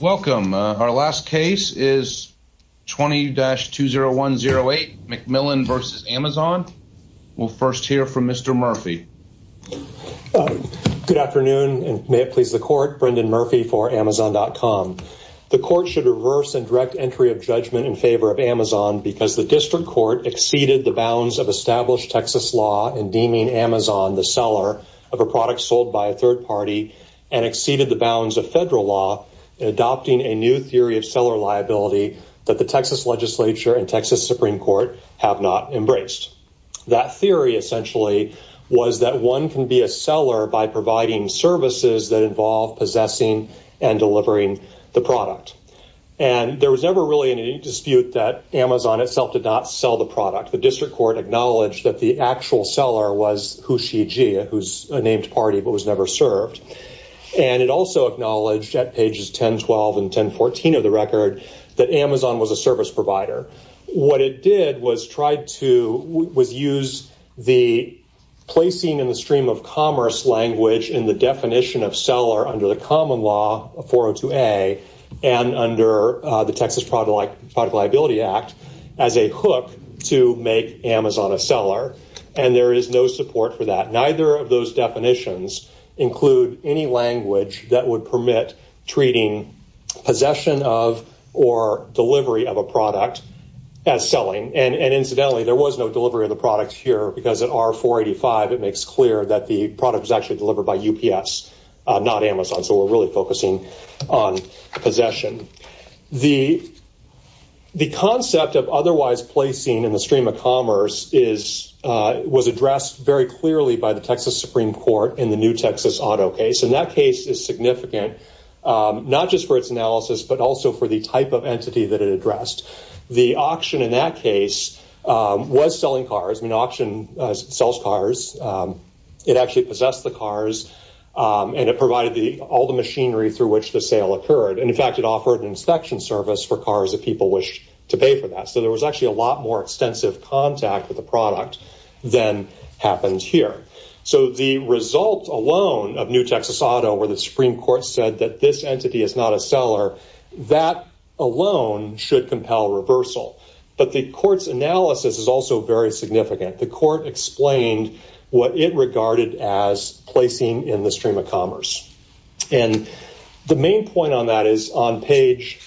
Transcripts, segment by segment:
Welcome. Our last case is 20-20108, McMillan v. Amazon. We'll first hear from Mr. Murphy. Good afternoon, and may it please the court, Brendan Murphy for Amazon.com. The court should reverse and direct entry of judgment in favor of Amazon because the district court exceeded the bounds of established Texas law in deeming Amazon the seller of a new theory of seller liability that the Texas legislature and Texas Supreme Court have not embraced. That theory essentially was that one can be a seller by providing services that involve possessing and delivering the product. There was never really any dispute that Amazon itself did not sell the product. The district court acknowledged that the actual seller was who's a named party but was never served. It also acknowledged at pages 10-12 and 10-14 of the record that Amazon was a service provider. What it did was use the placing in the stream of commerce language in the definition of seller under the common law of 402A and under the Texas Product Liability Act as a hook to make Amazon a seller, and there is no support for that. Neither of those definitions include any language that would permit treating possession of or delivery of a product as selling. Incidentally, there was no delivery of the product here because at R485, it makes clear that the product was actually delivered by UPS, not Amazon, so we're really focusing on possession. The concept of otherwise placing in the stream of commerce was addressed very clearly by the Texas Supreme Court in the new Texas auto case, and that case is significant not just for its analysis but also for the type of entity that it addressed. The auction in that case was selling cars. I mean, auction sells cars. It actually possessed the cars, and it provided all the machinery through which the sale occurred. In fact, it offered an inspection service for cars if people wish to pay for that, so there was actually a lot more extensive contact with the product than happens here. The result alone of new Texas auto where the Supreme Court said that this entity is not a seller, that alone should compel reversal, but the court's analysis is also very significant. The court explained what it regarded as placing in the stream of commerce, and the main point on that is on page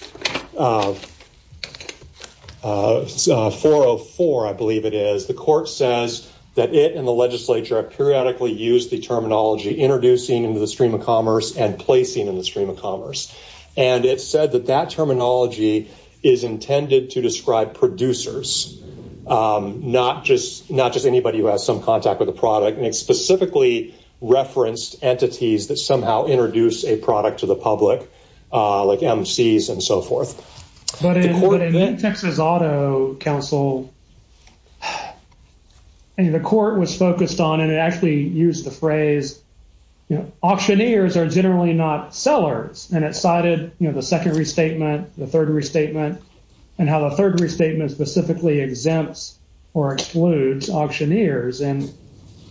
404, I believe it is. The court says that it and the legislature have periodically used the terminology introducing into the stream of commerce and placing in the stream of commerce, and it said that that terminology is intended to describe producers, not just anybody who has some contact with the product, and it specifically referenced entities that somehow introduce a product to the public like MCs and so forth. But in the Texas Auto Council, the court was focused on, and it actually used the phrase, auctioneers are generally not sellers, and it cited the second restatement, the third restatement, and how the third restatement specifically exempts or excludes auctioneers, and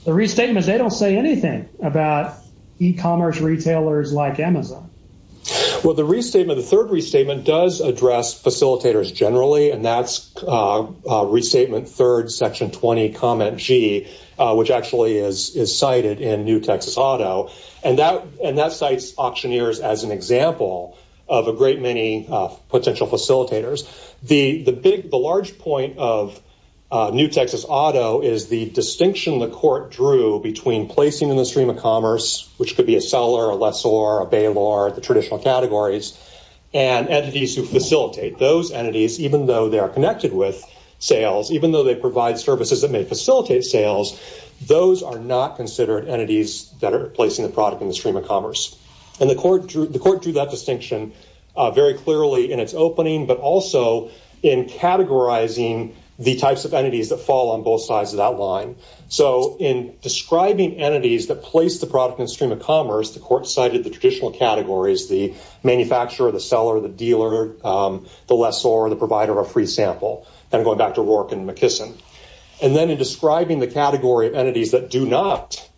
the restatements, they don't say anything about e-commerce retailers like Amazon. Well, the restatement, the third restatement does address facilitators generally, and that's restatement third, section 20, comment G, which actually is cited in New Texas Auto, and that cites auctioneers as an example of a great many potential facilitators. The large point of New Texas Auto is the distinction the court drew between placing in the stream of commerce, which could be a seller, a lessor, a bailor, the traditional categories, and entities who facilitate those entities, even though they are connected with sales, even though they provide services that may facilitate sales, those are not considered entities that are placing the product in the stream of commerce, and the court drew that distinction very clearly in its opening, but also in categorizing the types of entities that fall on both sides of that line, so in describing entities that place the product in the stream of commerce, the court cited the traditional categories, the manufacturer, the seller, the dealer, the lessor, the provider, a free sample, and going back to Rourke and McKissin, and then in describing the category of entities that do not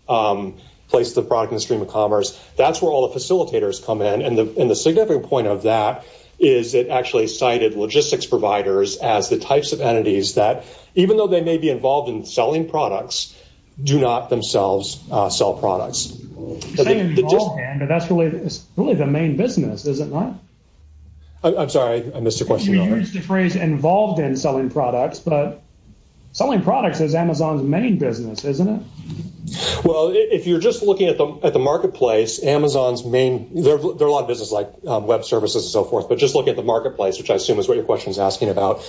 place the product in the stream of commerce, that's where all the facilitators come in, and the significant point of that is it actually cited logistics providers as the types of entities that, even though they may be involved in selling products, do not themselves sell products. You're saying involved in, but that's really the main business, is it not? I'm sorry, I missed your question. We used the phrase involved in selling products, but selling products is Amazon's main business, isn't it? Well, if you're just looking at the marketplace, Amazon's main, there are a lot of businesses like web services and so forth, but just look at the marketplace, which I assume is what your question is asking about.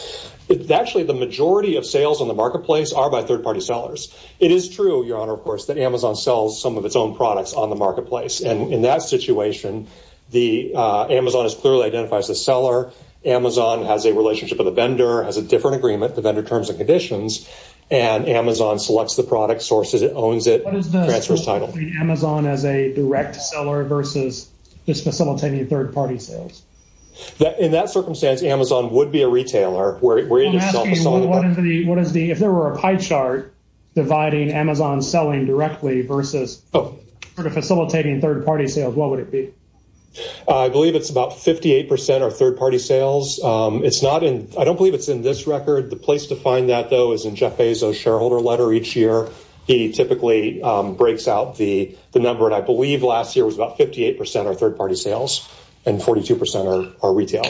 Actually, the majority of sales on the marketplace are by third-party sellers. It is true, Your Honor, of course, that Amazon sells some of its own products on the marketplace, and in that situation, Amazon clearly identifies the seller, Amazon has a relationship with the vendor, has a different agreement, the vendor terms and conditions, and Amazon selects the product, sources it, owns it, and transfers title. What is the difference between Amazon as a direct seller versus just facilitating third-party sales? In that circumstance, Amazon would be a retailer. If there were a pie chart dividing Amazon selling directly versus sort of facilitating third-party sales, what would it be? I believe it's about 58% are third-party sales. I don't believe it's in this record. The place to find that, though, is in Jeff Bezos' shareholder letter each year. He typically breaks out the number, and I believe last year was about 58% are third-party sales and 42% are retail.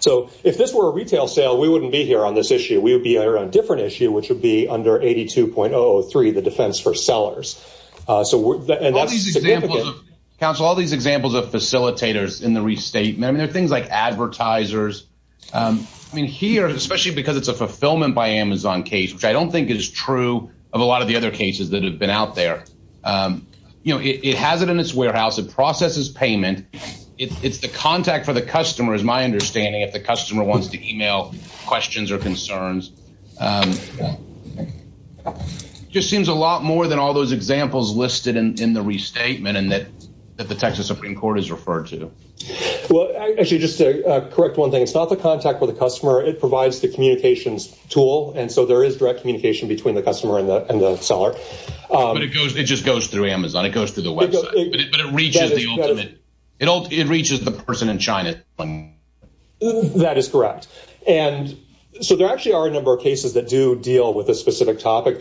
So if this were a retail sale, we wouldn't be here on this issue. We would be here on a different issue, which would be under 82.003, the defense for sellers. So all these examples of facilitators in the restatement, I mean, there are things like advertisers. I mean, here, especially because it's a fulfillment by Amazon case, which I don't think is true of a lot of the other cases that have been out there, you know, it has it in its warehouse. It processes payment. It's the contact for the customer, is my understanding, if the in the restatement and that the Texas Supreme Court has referred to. Well, actually, just to correct one thing, it's not the contact with the customer. It provides the communications tool, and so there is direct communication between the customer and the seller. But it just goes through Amazon. It goes through the website, but it reaches the person in China. That is correct. And so there actually are a number of cases that do deal with a specific circuit,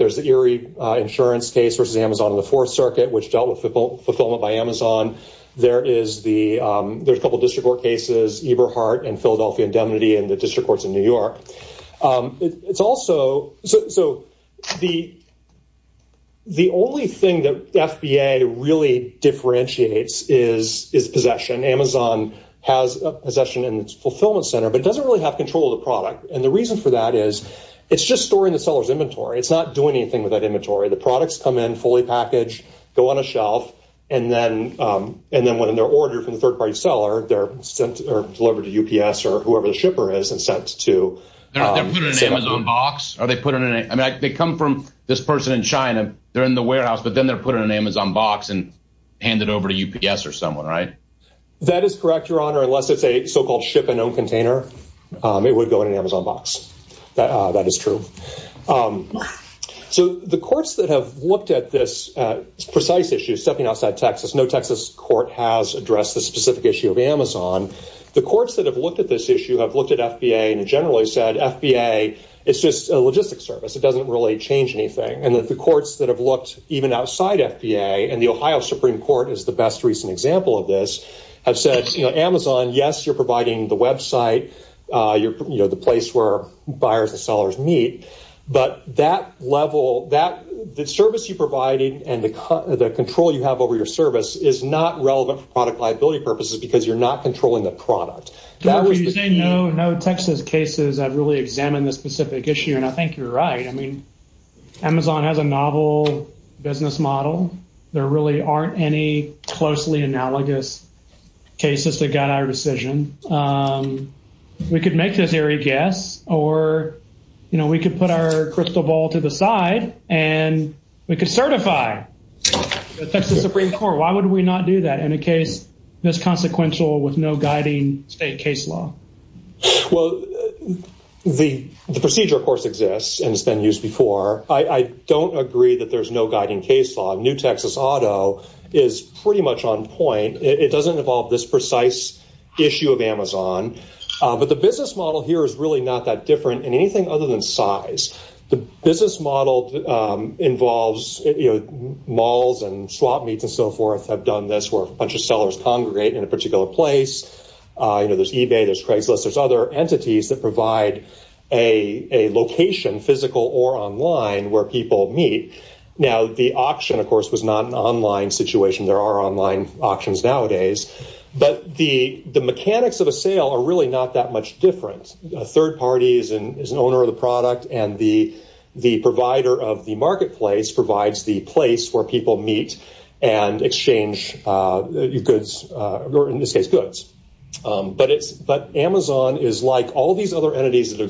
which dealt with fulfillment by Amazon. There's a couple of district court cases, Eberhart and Philadelphia indemnity, and the district courts in New York. So the only thing that FBA really differentiates is possession. Amazon has a possession in its fulfillment center, but it doesn't really have control of the product. And the reason for that is it's just storing the seller's inventory. It's not doing anything with that inventory. The products come in fully packaged, go on a shelf, and then when they're ordered from the third-party seller, they're sent or delivered to UPS or whoever the shipper is and sent to. Are they put in an Amazon box? I mean, they come from this person in China, they're in the warehouse, but then they're put in an Amazon box and handed over to UPS or someone, right? That is correct, Your Honor, unless it's a so-called ship-and-own container. It would go in an Amazon box. That is true. So the courts that have looked at this precise issue, stepping outside Texas, no Texas court has addressed the specific issue of Amazon. The courts that have looked at this issue have looked at FBA and generally said, FBA is just a logistic service. It doesn't really change anything. And that the courts that have looked even outside FBA, and the Ohio Supreme Court is the best recent example of this, have said, Amazon, yes, you're providing the website, you're the place where buyers and sellers meet, but that level, the service you're providing and the control you have over your service is not relevant for product liability purposes because you're not controlling the product. You say no Texas cases have really examined this specific issue, and I think you're right. I mean, Amazon has a novel business model. There really aren't any closely analogous cases that got our decision. We could make this very guess, or we could put our crystal ball to the side and we could certify the Texas Supreme Court. Why would we not do that in a case that's consequential with no guiding state case law? Well, the procedure, of course, exists and has been used before. I don't agree that there's no guiding case law. New Texas auto is pretty much on point. It doesn't involve this precise issue of Amazon, but the business model here is really not that different in anything other than size. The business model involves malls and swap meets and so forth have done this where a bunch of sellers congregate in a particular place. There's eBay, there's Craigslist, there's other The auction, of course, was not an online situation. There are online auctions nowadays, but the mechanics of a sale are really not that much different. A third party is an owner of the product, and the provider of the marketplace provides the place where people meet and exchange goods, or in this case, goods. But Amazon is like all these other entities that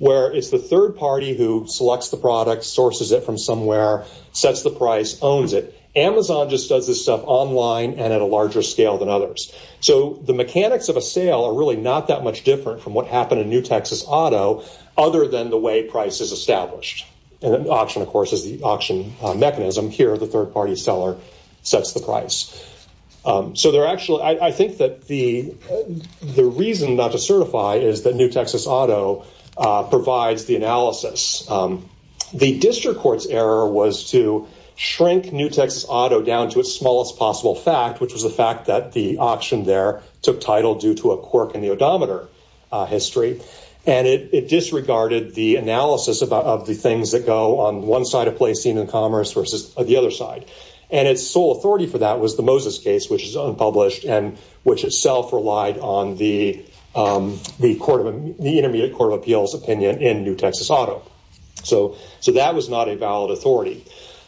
where it's the third party who selects the product, sources it from somewhere, sets the price, owns it. Amazon just does this stuff online and at a larger scale than others. The mechanics of a sale are really not that much different from what happened in New Texas auto, other than the way price is established. An auction, of course, is the auction mechanism. Here, the third party seller sets the price. I think that the reason not to certify is that provides the analysis. The district court's error was to shrink New Texas auto down to its smallest possible fact, which was the fact that the auction there took title due to a quirk in the odometer history. It disregarded the analysis of the things that go on one side of placing in commerce versus the other side. Its sole authority for that was the Moses case, which is unpublished and which itself relied on the Intermediate Court of Appeals opinion in New Texas auto. So that was not a valid authority.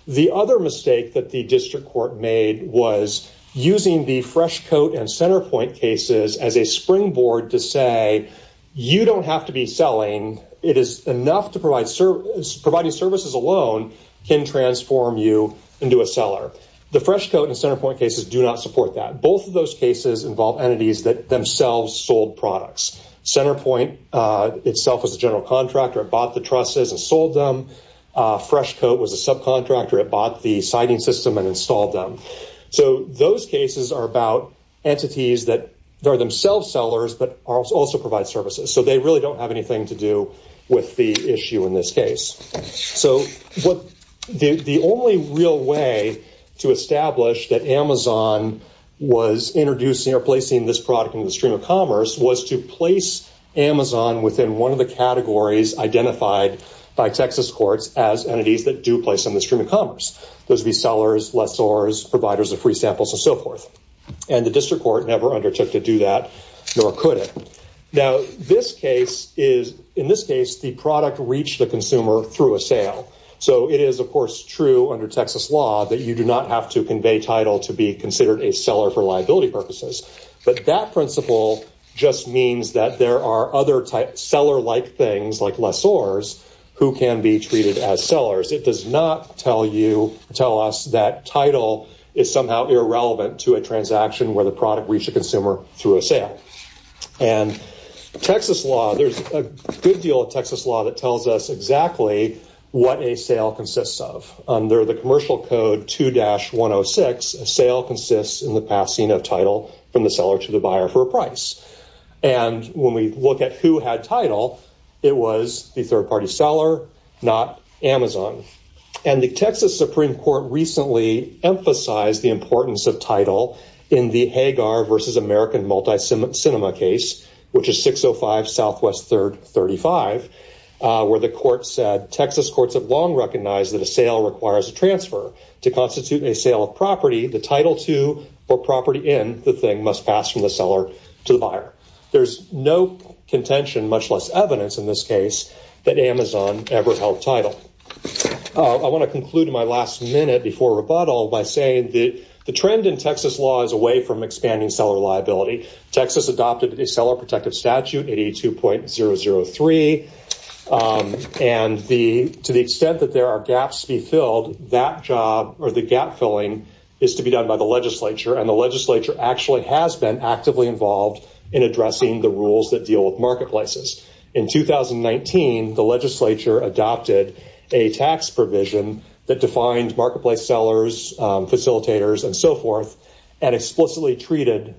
The other mistake that the district court made was using the fresh coat and center point cases as a springboard to say, you don't have to be selling. It is enough to provide services. Providing services alone can transform you into a seller. The fresh coat and center point cases do not support that. Both those cases involve entities that themselves sold products. Center point itself was a general contractor. It bought the trusses and sold them. Fresh coat was a subcontractor. It bought the siding system and installed them. Those cases are about entities that are themselves sellers, but also provide services. They really don't have anything to do with the issue in this case. So the only real way to establish that Amazon was introducing or placing this product in the stream of commerce was to place Amazon within one of the categories identified by Texas courts as entities that do place in the stream of commerce. Those would be sellers, lessors, providers of free samples, and so forth. The district court never undertook to do that, nor could it. In this case, the product reached the consumer through a sale. So it is, of course, true under Texas law that you do not have to convey title to be considered a seller for liability purposes. But that principle just means that there are other seller-like things like lessors who can be treated as sellers. It does not tell us that title is somehow irrelevant to a transaction where the product reached a consumer through a sale. There's a good deal of Texas law that tells us exactly what a sale consists of. Under the Commercial Code 2-106, a sale consists in the passing of title from the seller to the buyer for a price. When we look at who had title, it was the third-party seller, not Amazon. The Texas Supreme Court recently emphasized the importance of title in the Hagar v. American Multi-Cinema case, which is 605 Southwest 3rd 35, where the court said, Texas courts have long recognized that a sale requires a transfer. To constitute a sale of property, the title to or property in the thing must pass from the seller to the buyer. There's no contention, much less evidence in this case, that Amazon ever held title. I want to conclude in my last minute before rebuttal by saying that the trend in Texas law is away from expanding seller liability. Texas adopted a seller-protective statute, 82.003, and to the extent that there are gaps to be filled, that job or the gap-filling is to be done by the legislature, and the legislature actually has been actively involved in addressing the rules that deal with marketplaces. In 2019, the legislature adopted a tax provision that defined marketplace sellers, facilitators, and so forth, and explicitly treated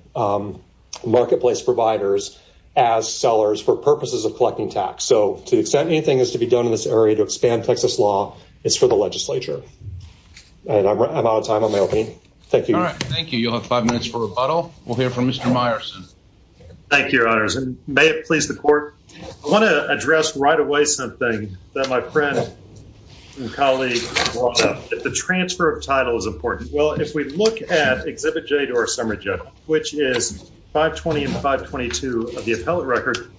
marketplace providers as sellers for purposes of collecting tax. To the extent anything is to be done in this area to expand Texas law is for the legislature. I'm out of time on my opening. Thank you. All right. Thank you. You'll have five minutes for rebuttal. We'll hear from Mr. Meyerson. Thank you, Your Honors, and may it please the Court. I want to address right away something that my friend and colleague brought up, that the transfer of title is important. Well, if we look at Exhibit J to our summary judgment, which is 520 and 522 of the appellate record,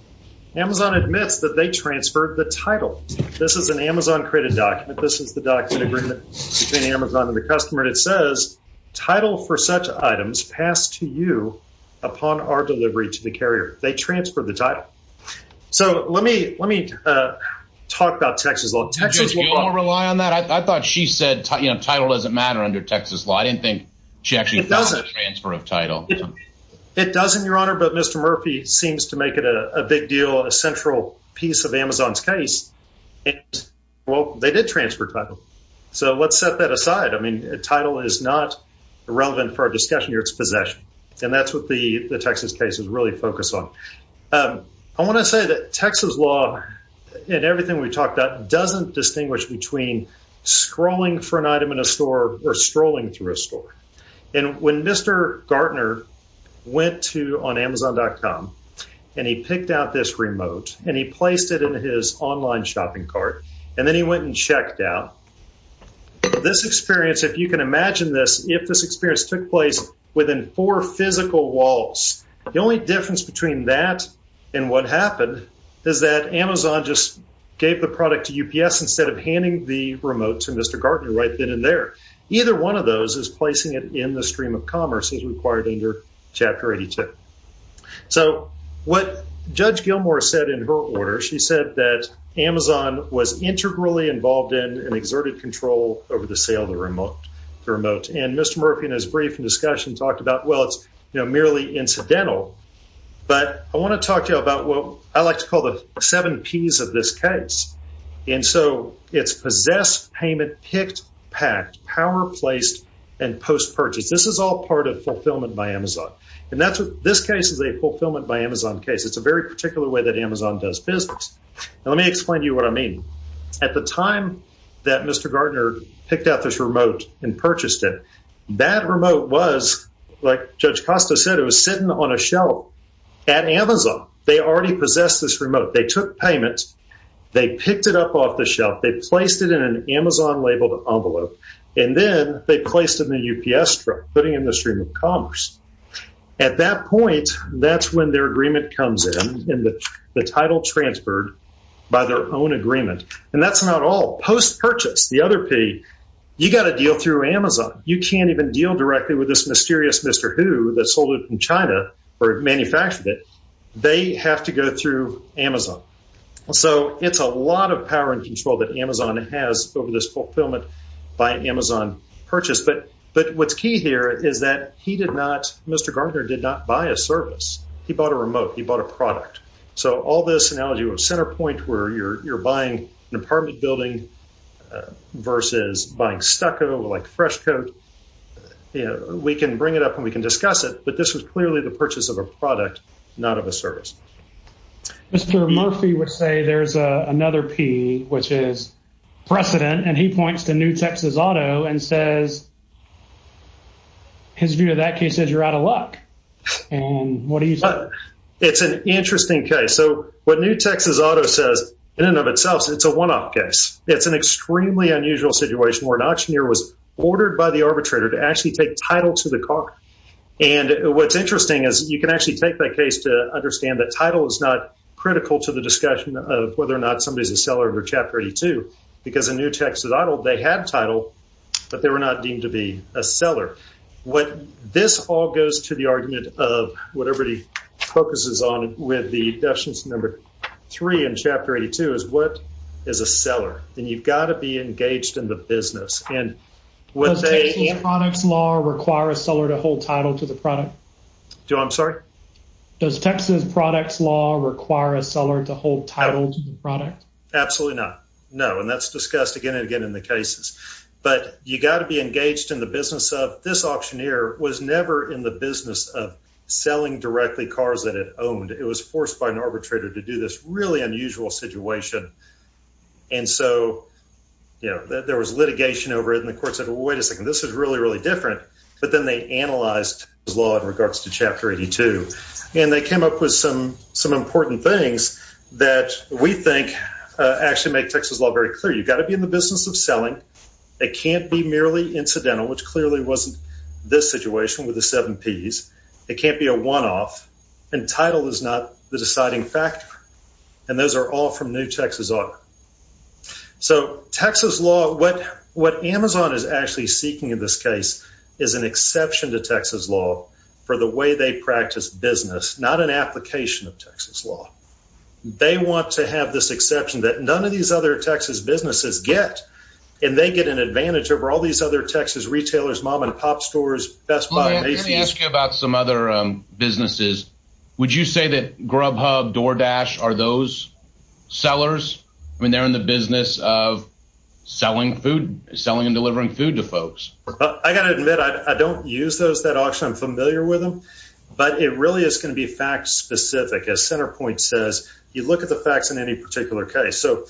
Amazon admits that they transferred the title. This is an Amazon-created document. This is the document agreement between Amazon and the customer, and it says, title for such items passed to you upon our delivery to the carrier. They transferred the title. So let me talk about Texas law. Do you want to rely on that? I thought she said title doesn't matter under Texas law. I didn't think she actually thought about the transfer of title. It doesn't, Your Honor, but Mr. Murphy seems to make it a big deal, a central piece of Amazon's case. Well, they did transfer title. So let's set that aside. I mean, title is not relevant for our possession, and that's what the Texas case is really focused on. I want to say that Texas law and everything we talked about doesn't distinguish between scrolling for an item in a store or strolling through a store. And when Mr. Gartner went to, on Amazon.com, and he picked out this remote, and he placed it in his online shopping cart, and then he went and checked out, this experience, if you can imagine this, if this experience took place within four physical walls, the only difference between that and what happened is that Amazon just gave the product to UPS instead of handing the remote to Mr. Gartner right then and there. Either one of those is placing it in the stream of commerce as required under Chapter 82. So what Judge Gilmore said in order, she said that Amazon was integrally involved in and exerted control over the sale of the remote. And Mr. Murphy, in his brief discussion, talked about, well, it's merely incidental. But I want to talk to you about what I like to call the seven Ps of this case. And so it's possessed, payment, picked, packed, power placed, and post-purchase. This is all part of fulfillment by Amazon. And this case is a fulfillment by Amazon case. It's a very particular way that Amazon does business. And let me explain to you what I mean. At the time that Mr. Gartner picked out this remote and purchased it, that remote was, like Judge Costa said, it was sitting on a shelf at Amazon. They already possessed this remote. They took payments. They picked it up off the shelf. They placed it in an Amazon labeled envelope. And then they placed it in the UPS truck, putting in the stream of commerce. At that point, that's when their agreement comes in, the title transferred by their own agreement. And that's not all. Post-purchase, the other P, you got to deal through Amazon. You can't even deal directly with this mysterious Mr. Who that sold it from China or manufactured it. They have to go through Amazon. So it's a lot of power and control that Amazon has over this fulfillment by Amazon purchase. But what's key here is that Mr. Gartner did not buy a service. He bought a remote. He bought a product. So all this analogy of center point where you're buying an apartment building versus buying stucco like fresh coat, we can bring it up and we can discuss it. But this was clearly the purchase of a product, not of a service. Mr. Murphy would say there's another P, which is precedent. And he points to New Texas Auto and says his view of that case says you're out of luck. It's an interesting case. So what New Texas Auto says in and of itself, it's a one-off case. It's an extremely unusual situation where an auctioneer was ordered by the arbitrator to actually take title to the car. And what's interesting is you can actually take that case to understand that title is not critical to the discussion of whether or not somebody is a seller of Chapter 82, because a New Texas Auto, they had title, but they were not deemed to be a seller. What this all goes to the argument of what everybody focuses on with the definition number three in Chapter 82 is what is a seller? And you've got to be engaged in the business and what they... Does Texas products law require a seller to hold title to the product? Do I'm sorry? Does Texas products law require a seller to hold title to the product? Absolutely not. No. And that's discussed again and again in the cases, but you got to be engaged in the business of this auctioneer was never in the business of selling directly cars that it owned. It was forced by an arbitrator to do this really unusual situation. And so, you know, there was litigation over it and the court said, well, wait a second, this is really, really different. But then they analyzed his law in regards to Chapter 82. And they came up with some important things that we think actually make Texas law very clear. You've got to be in the business of selling. It can't be merely incidental, which clearly wasn't this situation with the seven Ps. It can't be a one-off and title is not the deciding factor. And those are all from New Texas Auto. So Texas law, what Amazon is actually seeking in this case is an exception to Texas law for the way they practice business, not an application of Texas law. They want to have this exception that none of these other Texas businesses get, and they get an advantage over all these other Texas retailers, mom and pop stores, Best Buy, Macy's. Let me ask you about some other businesses. Would you say that Grubhub, DoorDash are those sellers? I mean, they're in the business of selling food, selling and delivering food to But it really is going to be fact specific. As CenterPoint says, you look at the facts in any particular case. So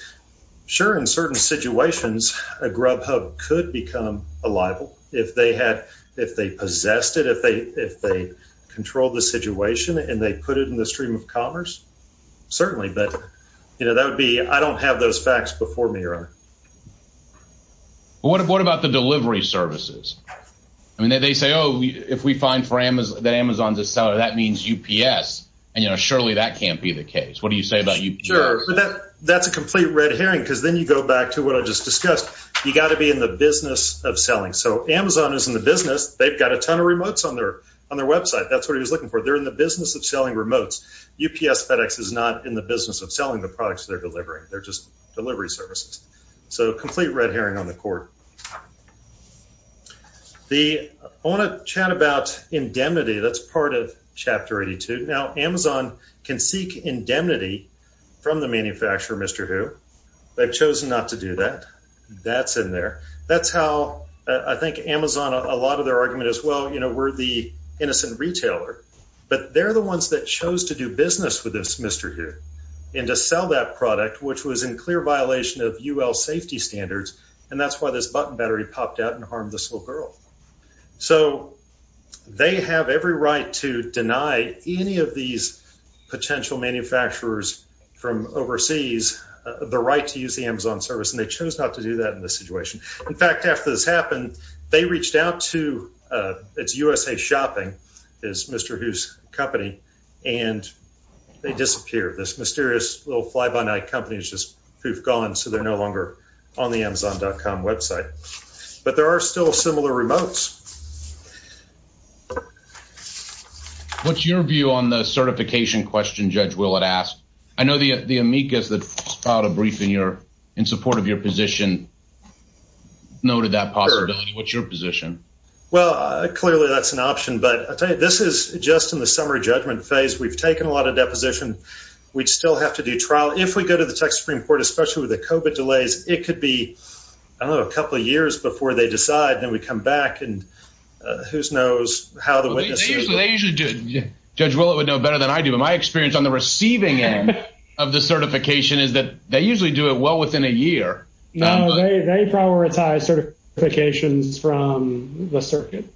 sure, in certain situations, a Grubhub could become a libel if they had, if they possessed it, if they if they control the situation and they put it in the stream of commerce. Certainly. But, you know, that would be I don't have those facts before me, Your Honor. But what about the delivery services? I mean, they say, oh, if we find that Amazon's a seller, that means UPS. And, you know, surely that can't be the case. What do you say about UPS? Sure. But that's a complete red herring, because then you go back to what I just discussed. You got to be in the business of selling. So Amazon is in the business. They've got a ton of remotes on their website. That's what he was looking for. They're in the business of selling remotes. UPS FedEx is not in the business of selling the products they're delivering. They're just delivery services. So complete red herring on the court. The I want to chat about indemnity. That's part of Chapter 82. Now, Amazon can seek indemnity from the manufacturer, Mr. Hu. They've chosen not to do that. That's in there. That's how I think Amazon, a lot of their argument is, well, you know, we're the innocent retailer, but they're the ones that chose to do business with this Mr. Hu and to sell that product, was in clear violation of UL safety standards. And that's why this button battery popped out and harmed this little girl. So they have every right to deny any of these potential manufacturers from overseas the right to use the Amazon service. And they chose not to do that in this situation. In fact, after this happened, they reached out to it's USA Shopping is Mr. Company, and they disappeared. This mysterious little fly-by-night company is just poof gone. So they're no longer on the Amazon.com website, but there are still similar remotes. What's your view on the certification question? Judge Willard asked. I know the amicus that filed a brief in your, in support of your position, noted that possibility. What's your position? Well, clearly that's an option, but I'll tell in the summer judgment phase, we've taken a lot of deposition. We'd still have to do trial. If we go to the Texas Supreme Court, especially with the COVID delays, it could be, I don't know, a couple of years before they decide. Then we come back and who knows how the witnesses usually do. Judge Willard would know better than I do, but my experience on the receiving end of the certification is that they usually do it well within a year. They prioritize certifications from the circuit.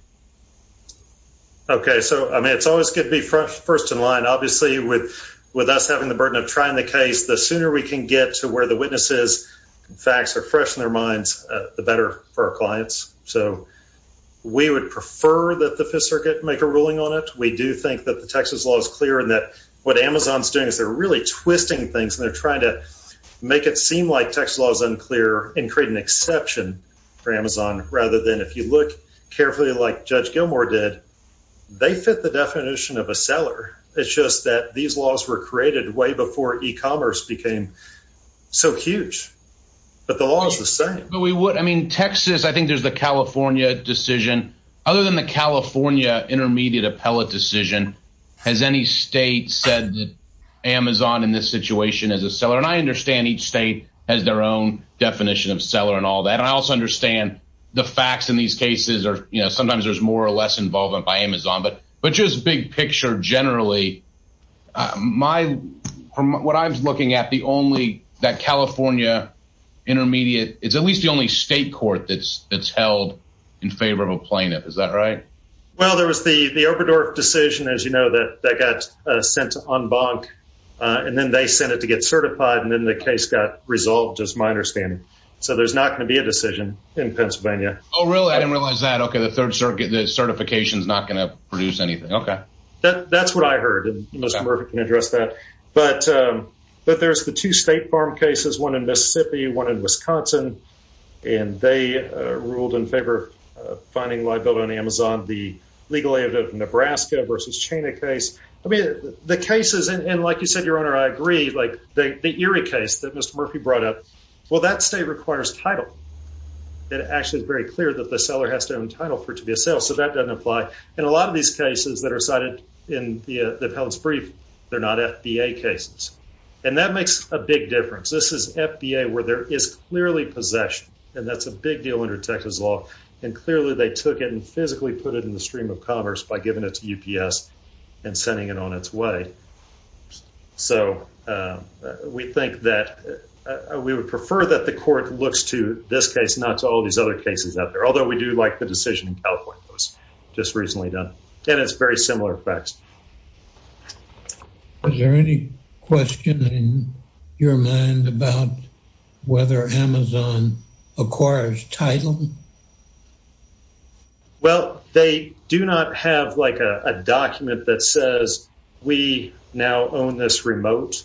Okay. So, I mean, it's always good to be first in line, obviously with, with us having the burden of trying the case, the sooner we can get to where the witnesses facts are fresh in their minds, the better for our clients. So we would prefer that the fifth circuit make a ruling on it. We do think that the Texas law is clear and that what Amazon's doing is they're really twisting things and they're trying to make it seem like Texas law is unclear and create an exception for Amazon, rather than if you look carefully like Judge Gilmore did, they fit the definition of a seller. It's just that these laws were created way before e-commerce became so huge, but the law is the same. But we would, I mean, Texas, I think there's the California decision. Other than the California intermediate appellate decision, has any state said that Amazon in this situation is a seller? And I understand each state has their own definition of seller and all that. And I also understand the facts in these cases are, you know, sometimes there's more or less involvement by Amazon, but, but just big picture, generally my, from what I was looking at, the only that California intermediate, it's at least the only state court that's, that's held in favor of a plaintiff. Is that right? Well, there was the, the Oberdorf decision, as you know, that, that got sent on bonk, and then they sent it to get certified. And then the case got resolved, just my understanding. So there's not going to be a decision in Pennsylvania. Oh, really? I didn't realize that. Okay. The third circuit, the certification is not going to produce anything. Okay. That, that's what I heard. And Mr. Murphy can address that. But, but there's the two state farm cases, one in Mississippi, one in Wisconsin, and they ruled in favor of finding liability on Amazon, the legal aid of Nebraska versus China case. I mean, the cases, and like you said, your owner, I agree, like the, the Erie case that Mr. Murphy brought up, well, that state requires title. It actually is very clear that the seller has to own title for it to be a sale. So that doesn't apply. And a lot of these cases that are cited in the appellate's brief, they're not FBA cases. And that makes a big difference. This is FBA where there is clearly possession and that's a big deal under Texas law. And clearly they took it and physically put it in the stream of commerce by giving it to UPS and sending it on its way. So we think that we would prefer that the court looks to this case, not to all these other cases out there. Although we do like the decision in California was just recently done and it's very similar effects. Was there any question in your mind about whether Amazon acquires title? Well, they do not have like a document that says we now own this remote,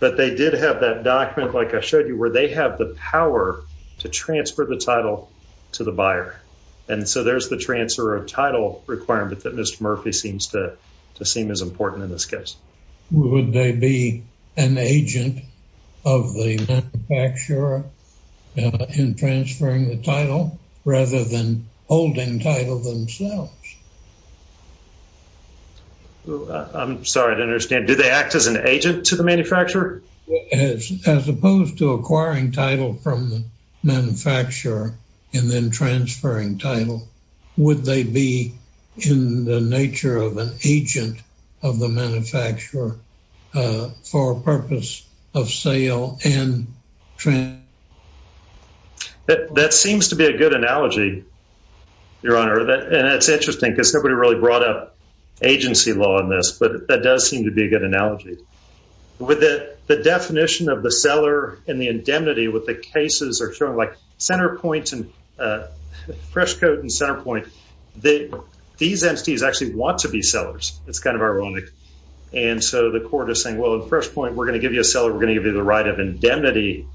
but they did have that document, like I showed you where they have the power to transfer the title to the buyer. And so there's the transfer of title requirement that Mr. Murphy seems to to seem as important in this case. Would they be an agent of the manufacturer in transferring the title rather than holding title themselves? I'm sorry to understand. Do they act as an agent to the manufacturer? As opposed to acquiring title from the manufacturer and then transferring title, would they be in the nature of an agent of the manufacturer for purpose of sale and transfer? That seems to be a good analogy, Your Honor. And it's interesting because nobody really the definition of the seller and the indemnity with the cases are showing like Centerpoint and Freshcoat and Centerpoint. These entities actually want to be sellers. It's kind of ironic. And so the court is saying, well, in Freshpoint, we're going to give you a seller, we're going to give you the right of indemnity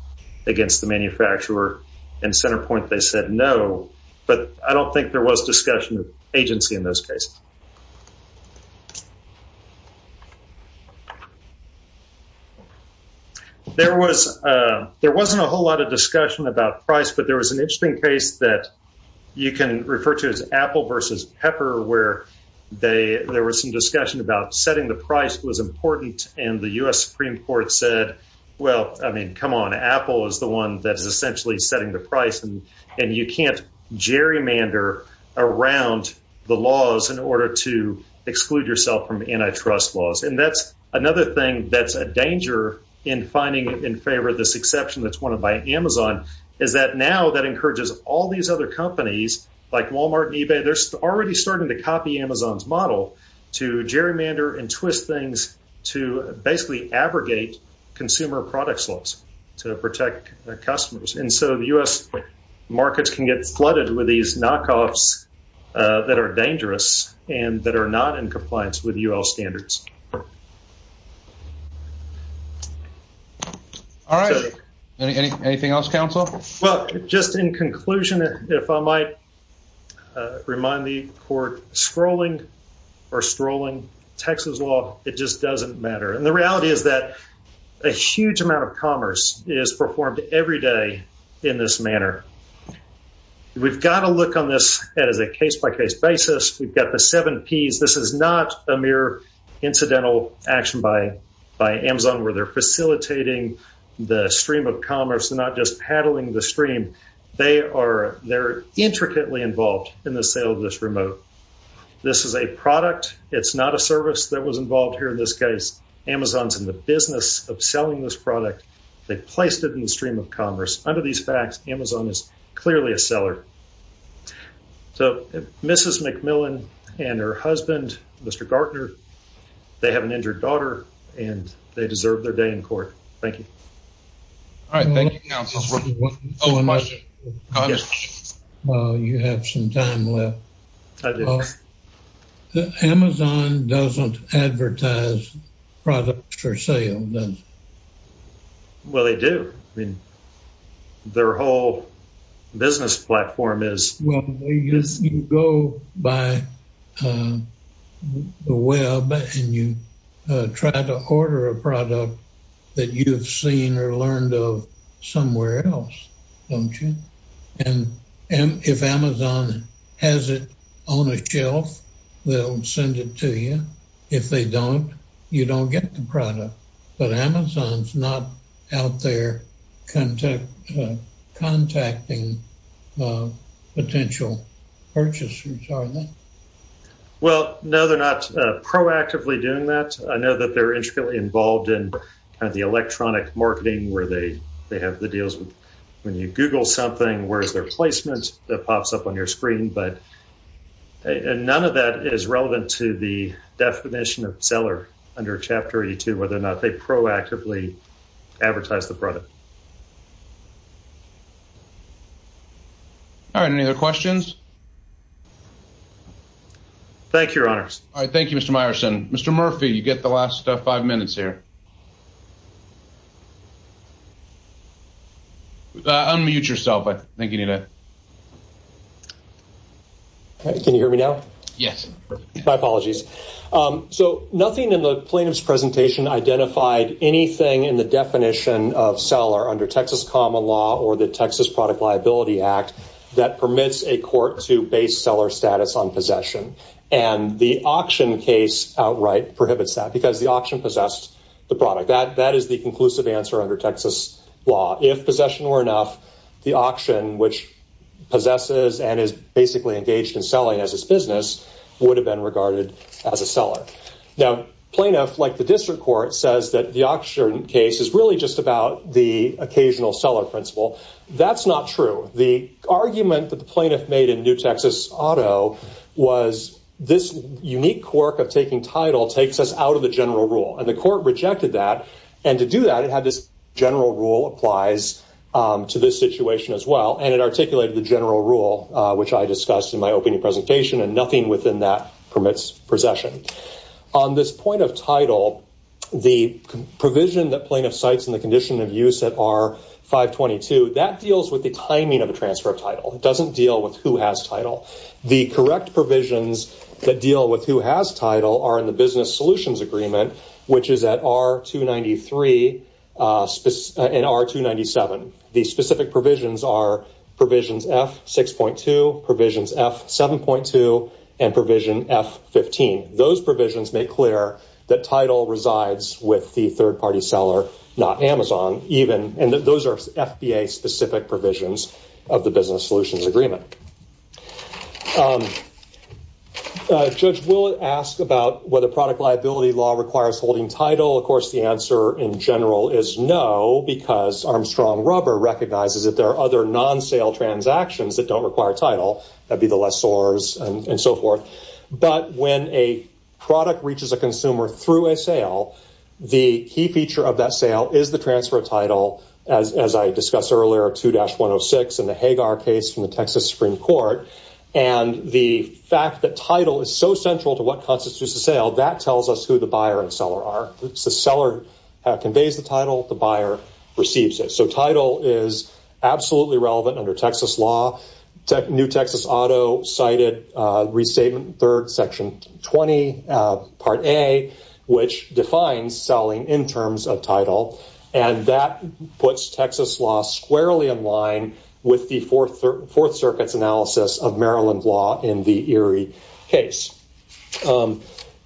against the manufacturer. And Centerpoint, they said no. But I don't think there was discussion of agency in those cases. There wasn't a whole lot of discussion about price, but there was an interesting case that you can refer to as Apple versus Pepper, where there was some discussion about setting the price was important. And the U.S. Supreme Court said, well, I mean, come on, Apple is the one that's essentially setting the price. And you can't gerrymander around the laws in order to exclude yourself from antitrust laws. And that's another thing that's a danger in finding in favor of this exception that's won by Amazon, is that now that encourages all these other companies like Walmart and eBay, they're already starting to copy Amazon's model to gerrymander and twist things to basically abrogate consumer products laws to protect customers. And so the U.S. markets can get flooded with these knockoffs that are dangerous and that are not in compliance with U.L. standards. All right. Anything else, counsel? Well, just in conclusion, if I might remind the court, scrolling or strolling Texas law, it just doesn't matter. And the reality is that a huge amount of commerce is performed every day in this manner. We've got to look on this as a case-by-case basis. We've got the seven Ps. This is not a mere incidental action by Amazon, where they're facilitating the stream of commerce and not just paddling the stream. They are intricately involved in the sale of this remote. This is a product. It's not a service that was involved here in this case. Amazon's in the business of selling this product. They placed it in the stream of commerce. Under these facts, Amazon is clearly a seller. So Mrs. McMillan and her husband, Mr. Gartner, they have an injured daughter and they deserve their day in court. Thank you. All right. Thank you, counsel. You have some time left. Amazon doesn't advertise products for sale, does it? Well, they do. I mean, their whole business platform is... You go by the web and you try to order a product that you've seen or learned of somewhere else, don't you? And if Amazon has it on a shelf, they'll send it to you. If they don't, you don't get the product. But Amazon's not out there contacting potential purchasers, are they? Well, no, they're not proactively doing that. I know that they're intricately involved in kind of the electronic marketing where they have the deals. When you Google something, where's their placement? That pops up on your screen. But none of that is relevant to the under Chapter 82, whether or not they proactively advertise the product. All right. Any other questions? Thank you, Your Honor. All right. Thank you, Mr. Meyerson. Mr. Murphy, you get the last five minutes here. Unmute yourself. I think you need it. Can you hear me now? Yes. My apologies. So nothing in the plaintiff's presentation identified anything in the definition of seller under Texas common law or the Texas Product Liability Act that permits a court to base seller status on possession. And the auction case outright prohibits that because the auction possessed the product. That is the conclusive answer under Texas law. If possession were enough, the auction, which possesses and is basically engaged in business, would have been regarded as a seller. Now, plaintiff, like the district court, says that the auction case is really just about the occasional seller principle. That's not true. The argument that the plaintiff made in New Texas Auto was this unique quirk of taking title takes us out of the general rule. And the court rejected that. And to do that, it had this general rule applies to this situation as well. And it articulated the general rule, which I discussed in my opening presentation, and nothing within that permits possession. On this point of title, the provision that plaintiff cites in the condition of use at R-522, that deals with the timing of a transfer of title. It doesn't deal with who has title. The correct provisions that deal with who has title are in the business solutions agreement, which is at R-293 and R-297. The specific provisions are provisions F-6.2, provisions F-7.2, and provision F-15. Those provisions make clear that title resides with the third-party seller, not Amazon, even. And those are FBA-specific provisions of the business solutions agreement. Judge, we'll ask about whether product liability law requires holding title. Of course, the answer in general is no, because Armstrong Rubber recognizes that there are other non-sale transactions that don't require title. That'd be the lessors and so forth. But when a product reaches a consumer through a sale, the key feature of that sale is the transfer of title, as I discussed earlier, 2-106 in the Hagar case from the Texas Supreme Court. And the fact that title is so central to what constitutes a sale, that tells us who the buyer and seller are. The seller conveys the title, the buyer receives it. So title is absolutely relevant under Texas law. New Texas Auto cited Restatement 3rd, Section 20, Part A, which defines selling in terms of title. And that puts Texas law squarely in line with the Fourth Circuit's analysis of Maryland law in the Erie case.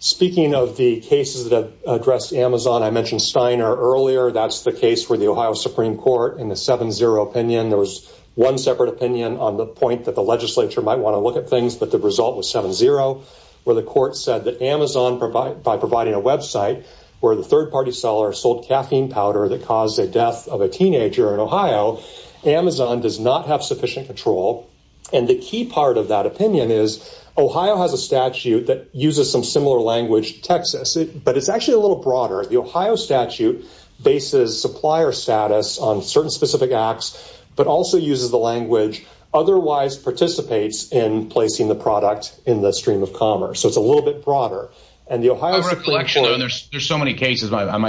Speaking of the cases that address Amazon, I mentioned Steiner earlier. That's the case where the Ohio Supreme Court, in the 7-0 opinion, there was one separate opinion on the point that the legislature might want to look at things, but the result was 7-0, where the court said that Amazon, by providing a website where the third-party seller sold caffeine powder that caused a death of a teenager in Ohio, Amazon does not have sufficient control. And the key part of that opinion is Ohio has a statute that uses some similar language to Texas, but it's actually a little broader. The Ohio statute bases supplier status on certain specific acts, but also uses the language, otherwise participates in placing the product in the stream of commerce. So it's a little bit broader. My recollection is the Ohio case was not a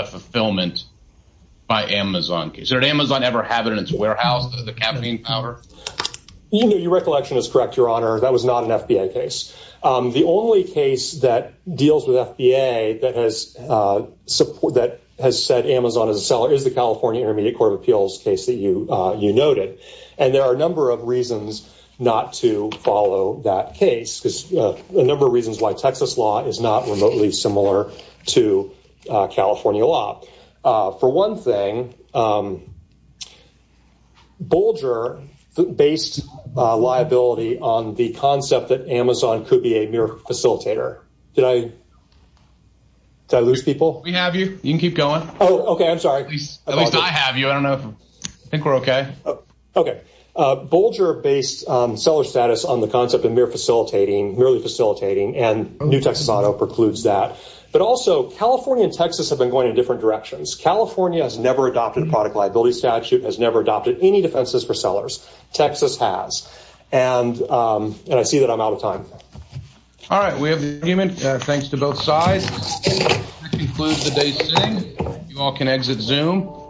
warehouse of the caffeine powder. Your recollection is correct, Your Honor. That was not an FBA case. The only case that deals with FBA that has said Amazon is a seller is the California Intermediate Court of Appeals case that you noted. And there are a number of reasons not to follow that case, because a number of reasons why Texas law is not remotely similar to California law. For one thing, Bolger based liability on the concept that Amazon could be a mere facilitator. Did I lose people? We have you. You can keep going. Oh, okay. I'm sorry. At least I have you. I think we're okay. Okay. Bolger based seller status on the concept of merely facilitating, and New Texas auto precludes that. But also California and Texas have been going in different directions. California has never adopted a product liability statute, has never adopted any defenses for sellers. Texas has. And I see that I'm out of time. All right. We have an agreement. Thanks to both sides. That concludes the day sitting. You all can exit Zoom.